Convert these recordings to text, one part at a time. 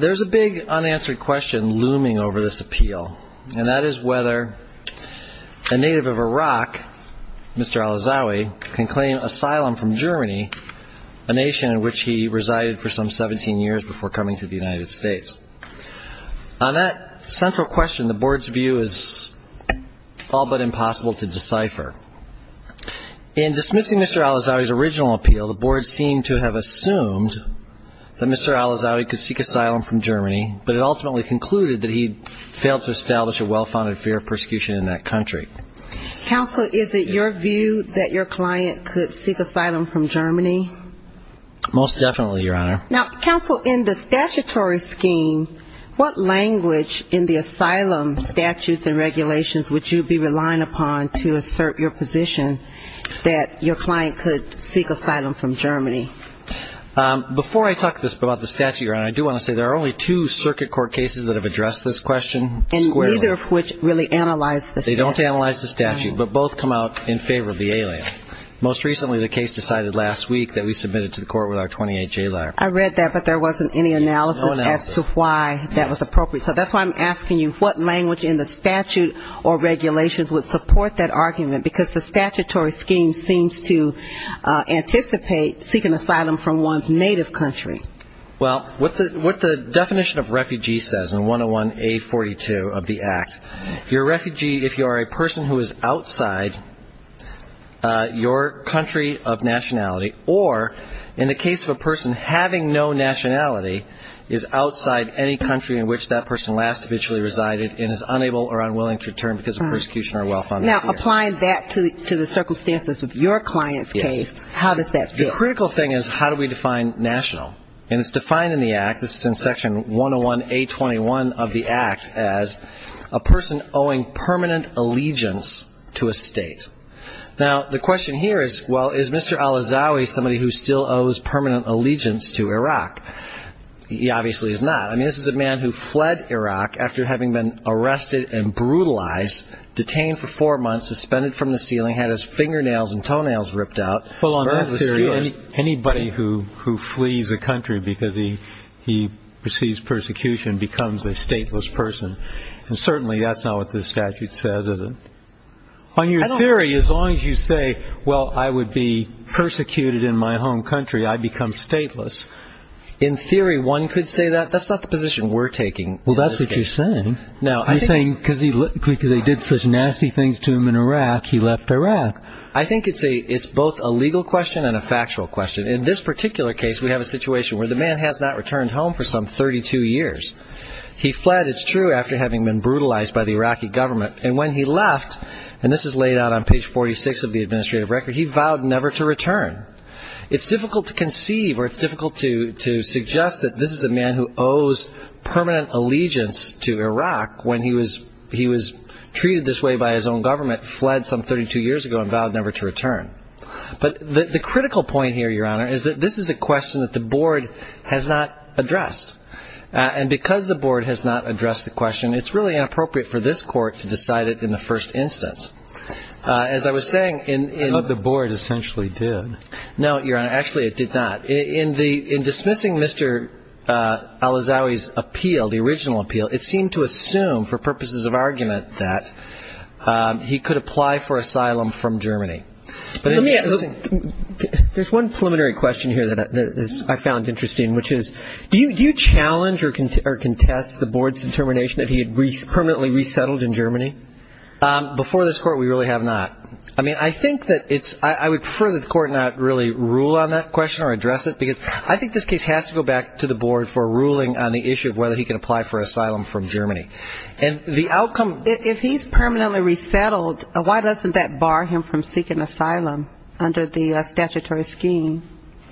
There is a big unanswered question looming over this appeal, and that is whether a native of Iraq, Mr. Alazzawe, can claim asylum from Germany, a nation in which he resided for some 17 years before coming to the United States. On that central question, the Board's view is all but impossible to decipher. In dismissing Mr. Alazzawe's original appeal, the Board seemed to have assumed that Mr. Alazzawe could seek asylum from Germany, but it ultimately concluded that he had failed to establish a well-founded fear of persecution in that country. Counsel, is it your view that your client could seek asylum from Germany? Most definitely, Your Honor. Now, Counsel, in the statutory scheme, what language in the asylum statutes and regulations would you be relying upon to assert your position that your client could seek asylum from Germany? Before I talk about the statute, Your Honor, I do want to say there are only two circuit court cases that have addressed this question squarely. And neither of which really analyze the statute. They don't analyze the statute, but both come out in favor of the ALA. Most recently, the case decided last week that we submit it to the court with our 28-J lawyer. I read that, but there wasn't any analysis as to why that was appropriate. So that's why I'm asking you, what language in the statute or regulations would support that argument? Because the statutory scheme seems to anticipate seeking asylum from one's native country. Well, what the definition of refugee says in 101A42 of the Act, your refugee, if you are a person who is outside your country of nationality, or in the case of a person having no nationality, is outside any country in which that person last officially resided and is unable or unwilling to return because of persecution or welfare. Now, applying that to the circumstances of your client's case, how does that fit? The critical thing is how do we define national? And it's defined in the Act, this is in Section 101A21 of the Act, as a person owing permanent allegiance to a state. Now the question here is, well, is Mr. Alazawi somebody who still owes permanent allegiance to Iraq? He obviously is not. I mean, this is a man who fled Iraq after having been arrested and brutalized, detained for four months, suspended from the ceiling, had his fingernails and toenails ripped out. Well, on that theory, anybody who flees a country because he receives persecution becomes a stateless person. And certainly that's not what this statute says, is it? On your theory, as long as you say, well, I would be persecuted in my home country, I become stateless. In theory, one could say that. That's not the position we're taking. Well, that's what you're saying. You're saying because they did such nasty things to him in Iraq, he left Iraq. I think it's both a legal question and a factual question. In this particular case, we have a situation where the man has not returned home for some 32 years. He fled, it's true, after having been brutalized by the Iraqi government. And when he left, and this is laid out on page 46 of the administrative record, he vowed never to return. It's difficult to conceive or it's difficult to suggest that this is a man who owes permanent allegiance to Iraq when he was treated this way by his own government, fled some 32 years ago and vowed never to return. But the critical point here, Your Honor, is that this is a question that the board has not addressed. And because the board has not addressed the question, it's really inappropriate for this court to decide it in the first instance. As I was saying, in- But the board essentially did. No, Your Honor, actually it did not. In dismissing Mr. Al-Azawi's appeal, the original appeal, it seemed to assume, for purposes of argument, that he could apply for asylum from Germany. Let me- There's one preliminary question here that I found interesting, which is, do you challenge or contest the board's determination that he had permanently resettled in Germany? Before this court, we really have not. I mean, I think that it's- I would prefer that the court not really rule on that question or address it, because I think this case has to go back to the board for a ruling on the issue of whether he can apply for asylum from Germany. And the outcome- If he's permanently resettled, why doesn't that bar him from seeking asylum under the statutory scheme?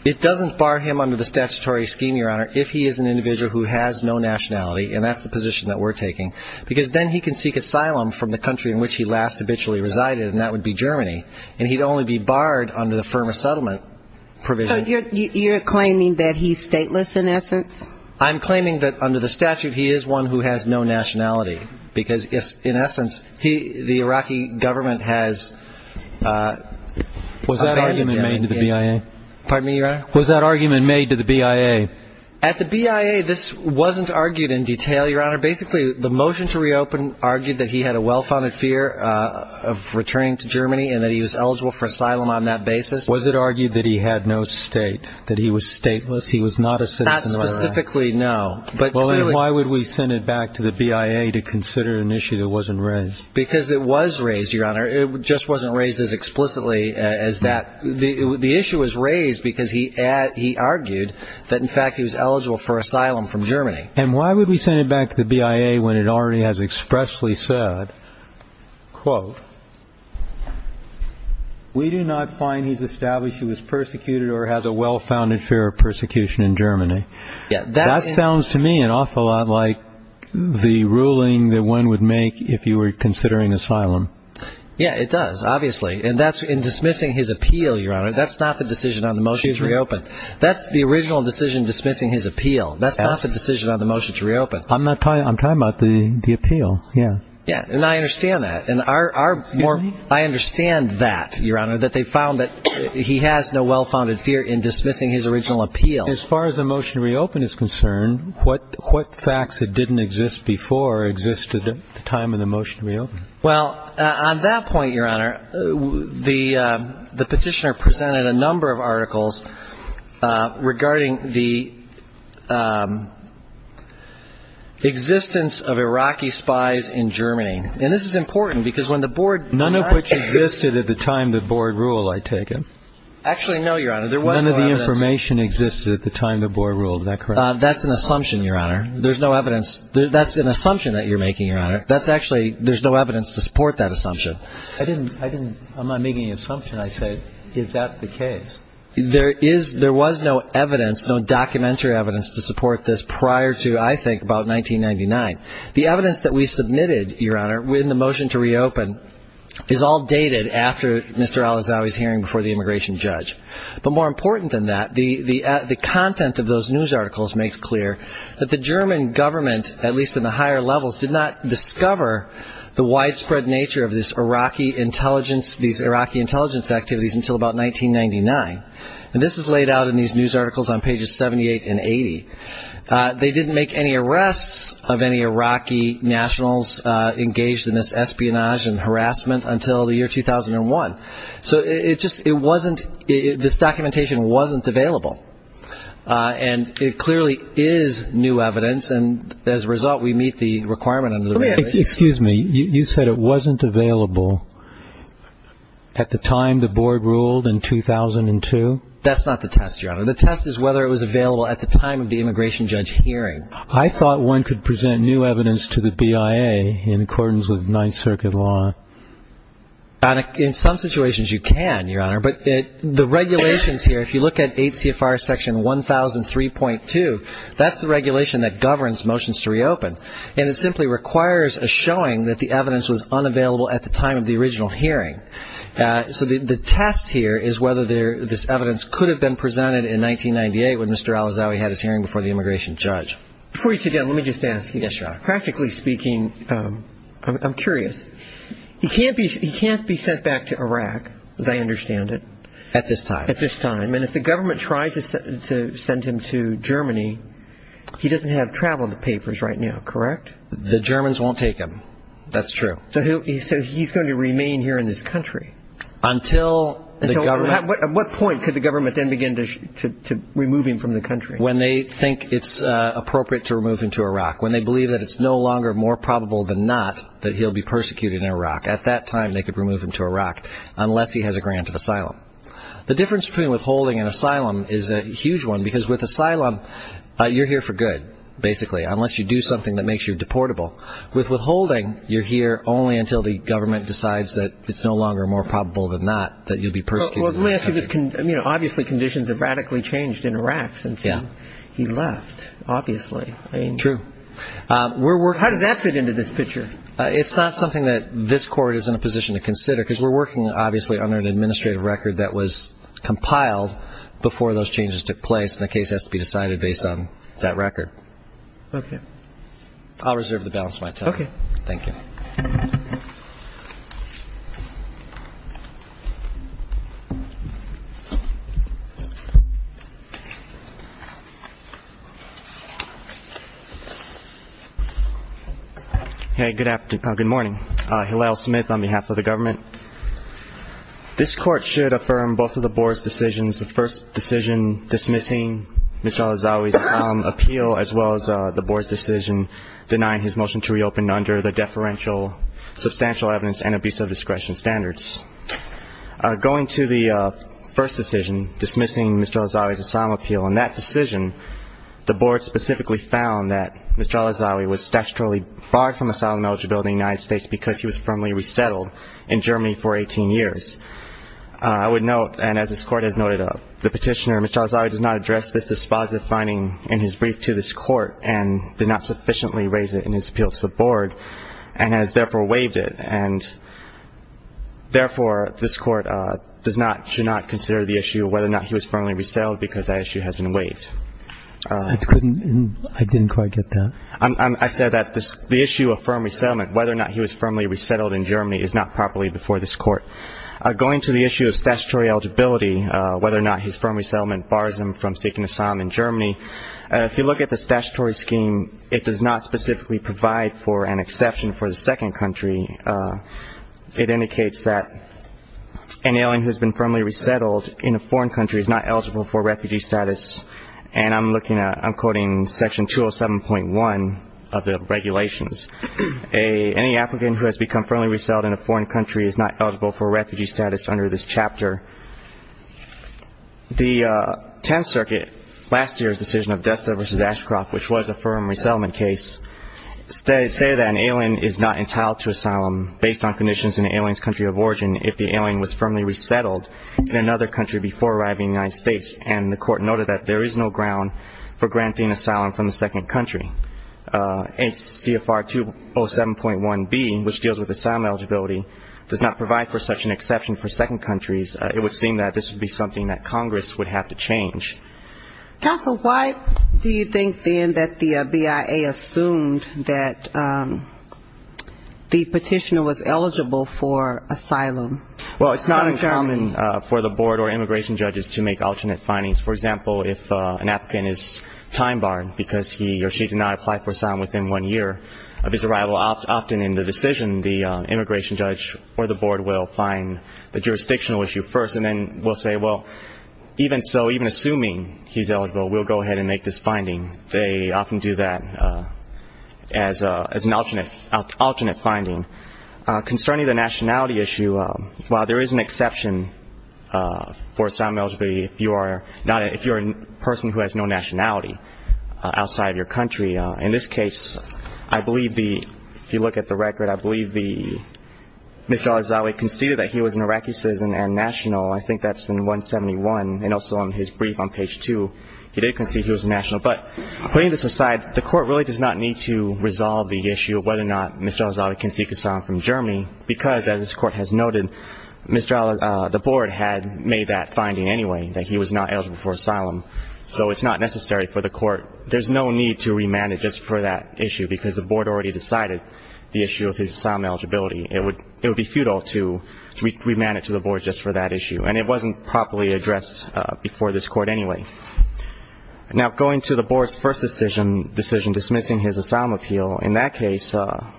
It doesn't bar him under the statutory scheme, Your Honor, if he is an individual who has no nationality, and that's the position that we're taking. Because then he can seek asylum from the country in which he last habitually resided, and that would be Germany. And he'd only be barred under the firm of settlement provision. So you're claiming that he's stateless, in essence? I'm claiming that, under the statute, he is one who has no nationality, because, in essence, the Iraqi government has- Was that argument made to the BIA? Pardon me, Your Honor? Was that argument made to the BIA? At the BIA, this wasn't argued in detail, Your Honor. Basically, the motion to reopen argued that he had a well-founded fear of returning to Germany, and that he was eligible for asylum on that basis. Was it argued that he had no state, that he was stateless, he was not a citizen of Iraq? Not specifically, no. But clearly- Well, then why would we send it back to the BIA to consider an issue that wasn't raised? Because it was raised, Your Honor. It just wasn't raised as explicitly as that. The issue was raised because he argued that, in fact, he was eligible for asylum from Germany. And why would we send it back to the BIA when it already has expressly said, quote, We do not find he's established he was persecuted or has a well-founded fear of persecution in Germany. Yeah, that's- That sounds to me an awful lot like the ruling that one would make if you were considering asylum. Yeah, it does, obviously. And that's in dismissing his appeal, Your Honor. That's not the decision on the motion to reopen. That's the original decision dismissing his appeal. That's not the decision on the motion to reopen. I'm not talking- I'm talking about the appeal, yeah. Yeah, and I understand that. And our- our more- Excuse me? I understand that, Your Honor, that they found that he has no well-founded fear in dismissing his original appeal. As far as the motion to reopen is concerned, what facts that didn't exist before existed at the time of the motion to reopen? Well, on that point, Your Honor, the petitioner presented a number of articles regarding the existence of Iraqi spies in Germany. And this is important, because when the board- None of which existed at the time the board ruled, I take it? Actually, no, Your Honor. There was no evidence- None of the information existed at the time the board ruled. Is that correct? That's an assumption, Your Honor. There's no evidence- that's an assumption that you're making, Your Honor. That's actually- there's no evidence to support that assumption. I didn't- I didn't- I'm not making an assumption. I said, is that the case? There is- there was no evidence, no documentary evidence to support this prior to, I think, about 1999. The evidence that we submitted, Your Honor, in the motion to reopen, is all dated after Mr. Al-Azawi's hearing before the immigration judge. But more important than that, the content of those news articles makes clear that the German government, at least in the higher levels, did not discover the widespread nature of this Iraqi intelligence- about 1999. And this is laid out in these news articles on pages 78 and 80. They didn't make any arrests of any Iraqi nationals engaged in this espionage and harassment until the year 2001. So it just- it wasn't- this documentation wasn't available. And it clearly is new evidence, and as a result, we meet the requirement under the- Excuse me. You said it wasn't available at the time the board ruled in 2002? That's not the test, Your Honor. The test is whether it was available at the time of the immigration judge hearing. I thought one could present new evidence to the BIA in accordance with Ninth Circuit law. In some situations, you can, Your Honor. But the regulations here, if you look at 8 CFR Section 1003.2, that's the regulation that governs motions to reopen. And it simply requires a showing that the evidence was unavailable at the time of the original hearing. So the test here is whether this evidence could have been presented in 1998, when Mr. Al-Azawi had his hearing before the immigration judge. Before you sit down, let me just ask you, practically speaking, I'm curious. He can't be sent back to Iraq, as I understand it. At this time. At this time. And if the government tries to send him to Germany, he doesn't have travel papers right now, correct? The Germans won't take him. That's true. So he's going to remain here in this country? Until the government... At what point could the government then begin to remove him from the country? When they think it's appropriate to remove him to Iraq. When they believe that it's no longer more probable than not that he'll be persecuted in Iraq. At that time, they could remove him to Iraq, unless he has a grant of asylum. The difference between withholding and asylum is a huge one, because with asylum, you're here for good, basically, unless you do something that makes you deportable. With withholding, you're here only until the government decides that it's no longer more probable than not that you'll be persecuted in Iraq. Well, let me ask you this. Obviously, conditions have radically changed in Iraq since he left, obviously. True. How does that fit into this picture? It's not something that this Court is in a position to consider, because we're working, obviously, under an administrative record that was compiled before those changes took place, and the case has to be decided based on that record. Okay. I'll reserve the balance of my time. Okay. Thank you. Good morning. Hillel Smith on behalf of the government. This Court should affirm both of the Board's decisions, the first decision dismissing Mr. Al-Azawi's asylum appeal, as well as the Board's decision denying his motion to reopen under the deferential substantial evidence and abuse of discretion standards. Going to the first decision dismissing Mr. Al-Azawi's asylum appeal, in that decision, the Board specifically found that Mr. Al-Azawi was statutorily barred from asylum eligibility in the United States because he was firmly resettled in Germany for 18 years. I would note, and as this Court has noted up, the petitioner, Mr. Al-Azawi, does not address this dispositive finding in his brief to this Court and did not sufficiently raise it in his appeal to the Board, and has therefore waived it. And therefore, this Court does not, should not consider the issue of whether or not he was firmly resettled, because that issue has been waived. I couldn't. I didn't quite get that. I said that the issue of firm resettlement, whether or not he was firmly resettled in Germany, is not properly before this Court. Going to the issue of statutory eligibility, whether or not his firm resettlement bars him from seeking asylum in Germany, if you look at the statutory scheme, it does not specifically provide for an exception for the second country. It indicates that an alien who has been firmly resettled in a foreign country is not eligible for refugee status, and I'm looking at, I'm quoting Section 207.1 of the regulations. Any applicant who has become firmly resettled in a foreign country is not eligible for refugee status under this chapter. The Tenth Circuit, last year's decision of Destler v. Ashcroft, which was a firm resettlement case, stated that an alien is not entitled to asylum based on conditions in the alien's country of origin if the alien was firmly resettled in another country before arriving in the United States, and the Court noted that there is no ground for granting asylum from the second country. H.C.F.R. 207.1b, which deals with asylum eligibility, does not provide for such an exception for second countries. It would seem that this would be something that Congress would have to change. Counsel, why do you think, then, that the BIA assumed that the petitioner was eligible for asylum? Well, it's not uncommon for the board or immigration judges to make alternate findings. For example, if an applicant is time-barred because he or she did not apply for asylum within one year of his arrival, often in the decision, the immigration judge or the board will find the jurisdictional issue first, and then will say, well, even so, even assuming he's eligible, we'll go ahead and make this finding. They often do that as an alternate finding. Concerning the nationality issue, while there is an exception for asylum eligibility if you're a person who has no nationality outside of your country, in this case, I believe the – if you look at the record, I believe the – Mr. Al-Azawi conceded that he was an Iraqi citizen and national. I think that's in 171, and also on his brief on page 2, he did concede he was national. But putting this aside, the Court really does not need to resolve the issue of whether or not Mr. Al-Azawi can seek asylum from Germany, because, as this not necessary for the Court. There's no need to remand it just for that issue, because the board already decided the issue of his asylum eligibility. It would – it would be futile to remand it to the board just for that issue. And it wasn't properly addressed before this Court anyway. Now going to the board's first decision, dismissing his asylum appeal, in that case, the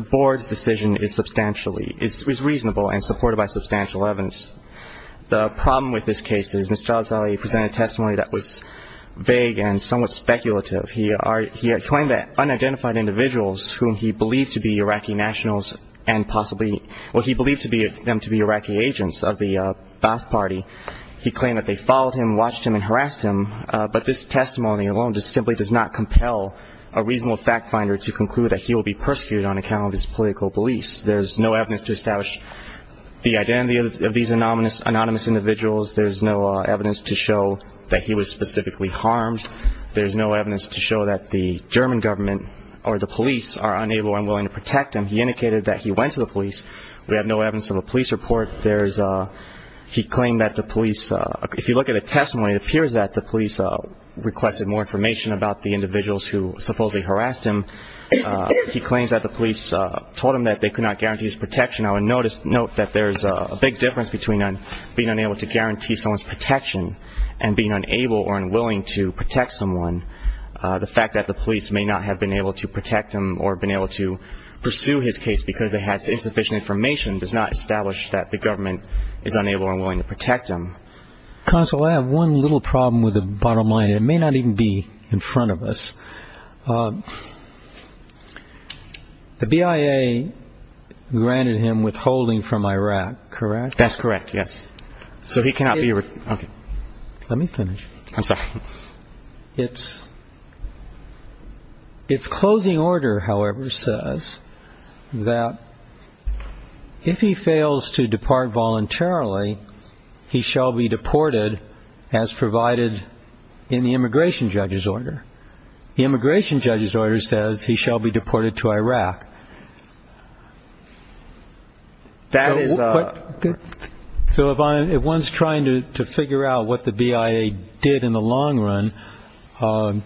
board's decision is substantially – is reasonable and supported by substantial evidence. The problem with this case is Mr. Al-Azawi presented a testimony that was vague and somewhat speculative. He are – he claimed that unidentified individuals whom he believed to be Iraqi nationals and possibly – well, he believed to be – them to be Iraqi agents of the Ba'ath Party. He claimed that they followed him, watched him, and harassed him. But this testimony alone just simply does not compel a reasonable fact-finder to conclude that he will be persecuted on account of his political beliefs. There's no evidence to establish the identity of these anonymous – anonymous individuals. There's no evidence to show that he was specifically harmed. There's no evidence to show that the German government or the police are unable and willing to protect him. He indicated that he went to the police. We have no evidence of a police report. There's – he claimed that the police – if you look at the testimony, it appears that the police requested more information about the individuals who supposedly harassed him. He claims that the police told him that they could not guarantee his protection. I would notice – note that there's a big difference between being unable to guarantee someone's protection and being unable or unwilling to protect someone. The fact that the police may not have been able to protect him or been able to pursue his case because they had insufficient information does not establish that the government is unable or unwilling to protect him. Counsel, I have one little problem with the bottom line. It may not even be in front of us. The BIA granted him withholding from Iraq, correct? That's correct, yes. So he cannot be – Let me finish. I'm sorry. It's closing order, however, says that if he fails to depart voluntarily, he shall be deported as provided in the immigration judge's order. The immigration judge's order says he shall be deported to Iraq. That is a – So if one's trying to figure out what the BIA did in the long run, I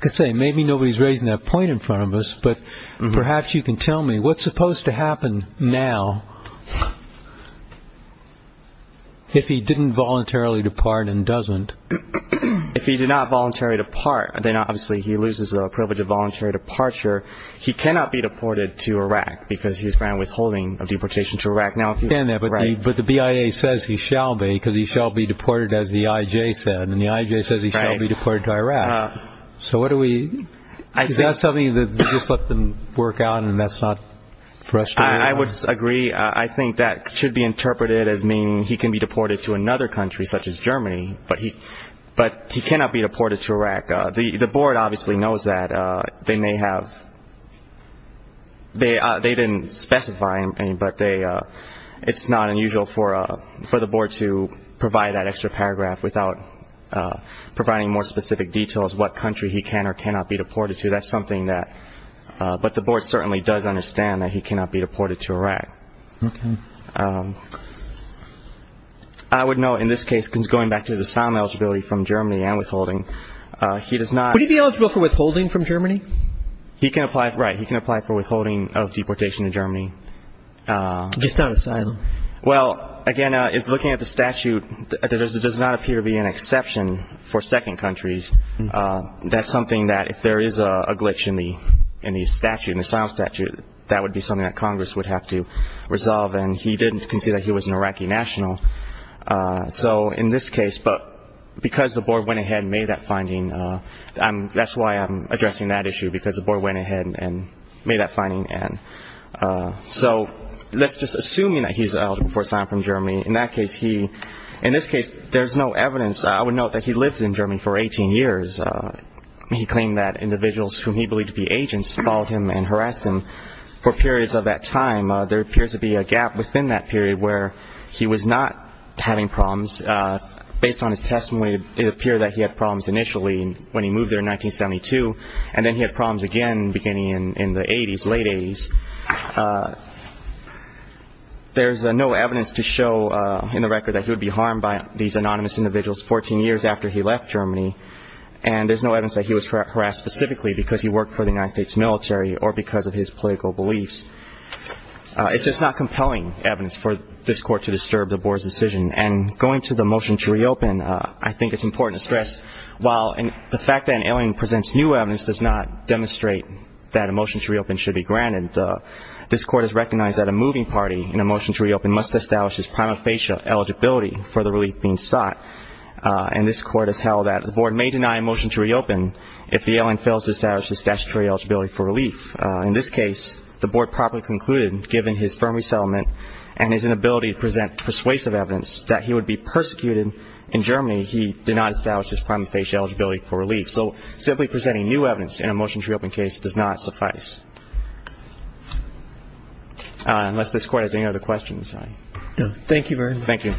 could say maybe nobody's raising that point in front of us, but perhaps you can tell me what's supposed to happen now if he didn't voluntarily depart and doesn't. If he did not voluntarily depart, then obviously he loses the privilege of voluntary departure. He cannot be deported to Iraq because he's granted withholding of deportation to Iraq. But the BIA says he shall be because he shall be deported as the IJ said, and the IJ says he shall be deported to Iraq. So what do we – is that something that you just let them work out and that's not frustrating? I would agree. I think that should be interpreted as meaning he can be deported to another country such as Germany, but he cannot be deported to Iraq. The board obviously knows that. They may have – they didn't specify, but it's not unusual for the board to provide that extra paragraph without providing more specific details what country he can or cannot be deported to. That's something that – but the board certainly does understand that he cannot be deported to Iraq. I would note in this case, going back to the asylum eligibility from Germany and withholding, he does not – Would he be eligible for withholding from Germany? He can apply – right, he can apply for withholding of deportation to Germany. Just not asylum? Well, again, looking at the statute, there does not appear to be an exception for second countries. That's something that if there is a glitch in the statute, in the asylum statute, that would be something that Congress would have to resolve and he didn't consider he was an Iraqi national. So in this case, but because the board went ahead and made that finding, that's why I'm addressing that issue because the board went ahead and made that finding. So let's just assume that he's eligible for asylum from Germany. In that case, he – in this case, there's no evidence. I would note that he lived in Germany for 18 years. He claimed that individuals whom he believed to be agents followed him and harassed him for periods of that time. There appears to be a gap within that period where he was not having problems. Based on his testimony, it appeared that he had problems initially when he moved there in 1972 and then he had problems again beginning in the 80s, late 80s. There's no evidence to show in the record that he would be harmed by these anonymous individuals 14 years after he left Germany and there's no evidence that he was harassed specifically because he worked for the United States military or because of his political beliefs. It's just not compelling evidence for this court to disturb the board's decision and going to the motion to reopen, I think it's important to stress while the fact that an alien presents new evidence does not demonstrate that a motion to reopen should be granted, and this court has recognized that a moving party in a motion to reopen must establish his prima facie eligibility for the relief being sought and this court has held that the board may deny a motion to reopen if the alien fails to establish his statutory eligibility for relief. In this case, the board properly concluded, given his firm resettlement and his inability to present persuasive evidence that he would be persecuted in Germany, he did not establish his prima facie eligibility for relief. So simply presenting new evidence in a motion to reopen case does not suffice. Unless this court has any other questions. Thank you very much. Thank you.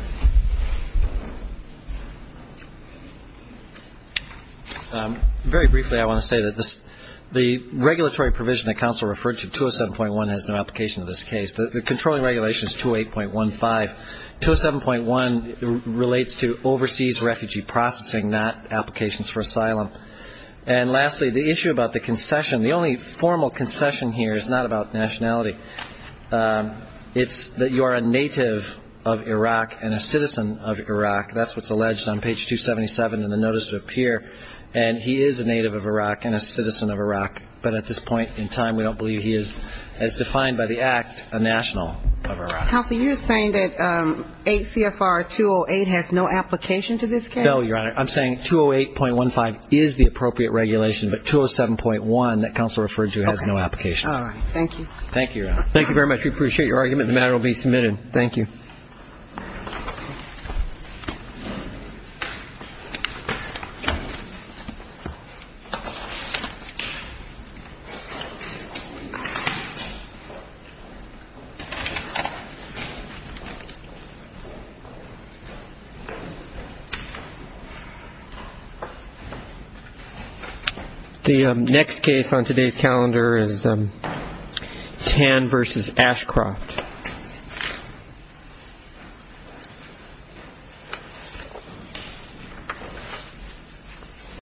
Very briefly, I want to say that the regulatory provision that counsel referred to, 207.1, has no application to this case. The controlling regulation is 208.15. 207.1 relates to overseas refugee processing, not applications for asylum. And lastly, the issue about the concession, the only formal concession here is not about nationality. It's that you are a native of Iraq and a citizen of Iraq. That's what's alleged on page 277 in the notice to appear. And he is a native of Iraq and a citizen of Iraq. But at this point in time, we don't believe he is, as defined by the act, a national of Iraq. Counsel, you're saying that 8 CFR 208 has no application to this case? No, Your Honor. I'm saying 208.15 is the appropriate regulation, but 207.1 that counsel referred to has no application. All right. Thank you. Thank you, Your Honor. Thank you very much. We appreciate your argument. The matter will be submitted. Thank you. The next case on today's calendar is Tan v. Ashcroft.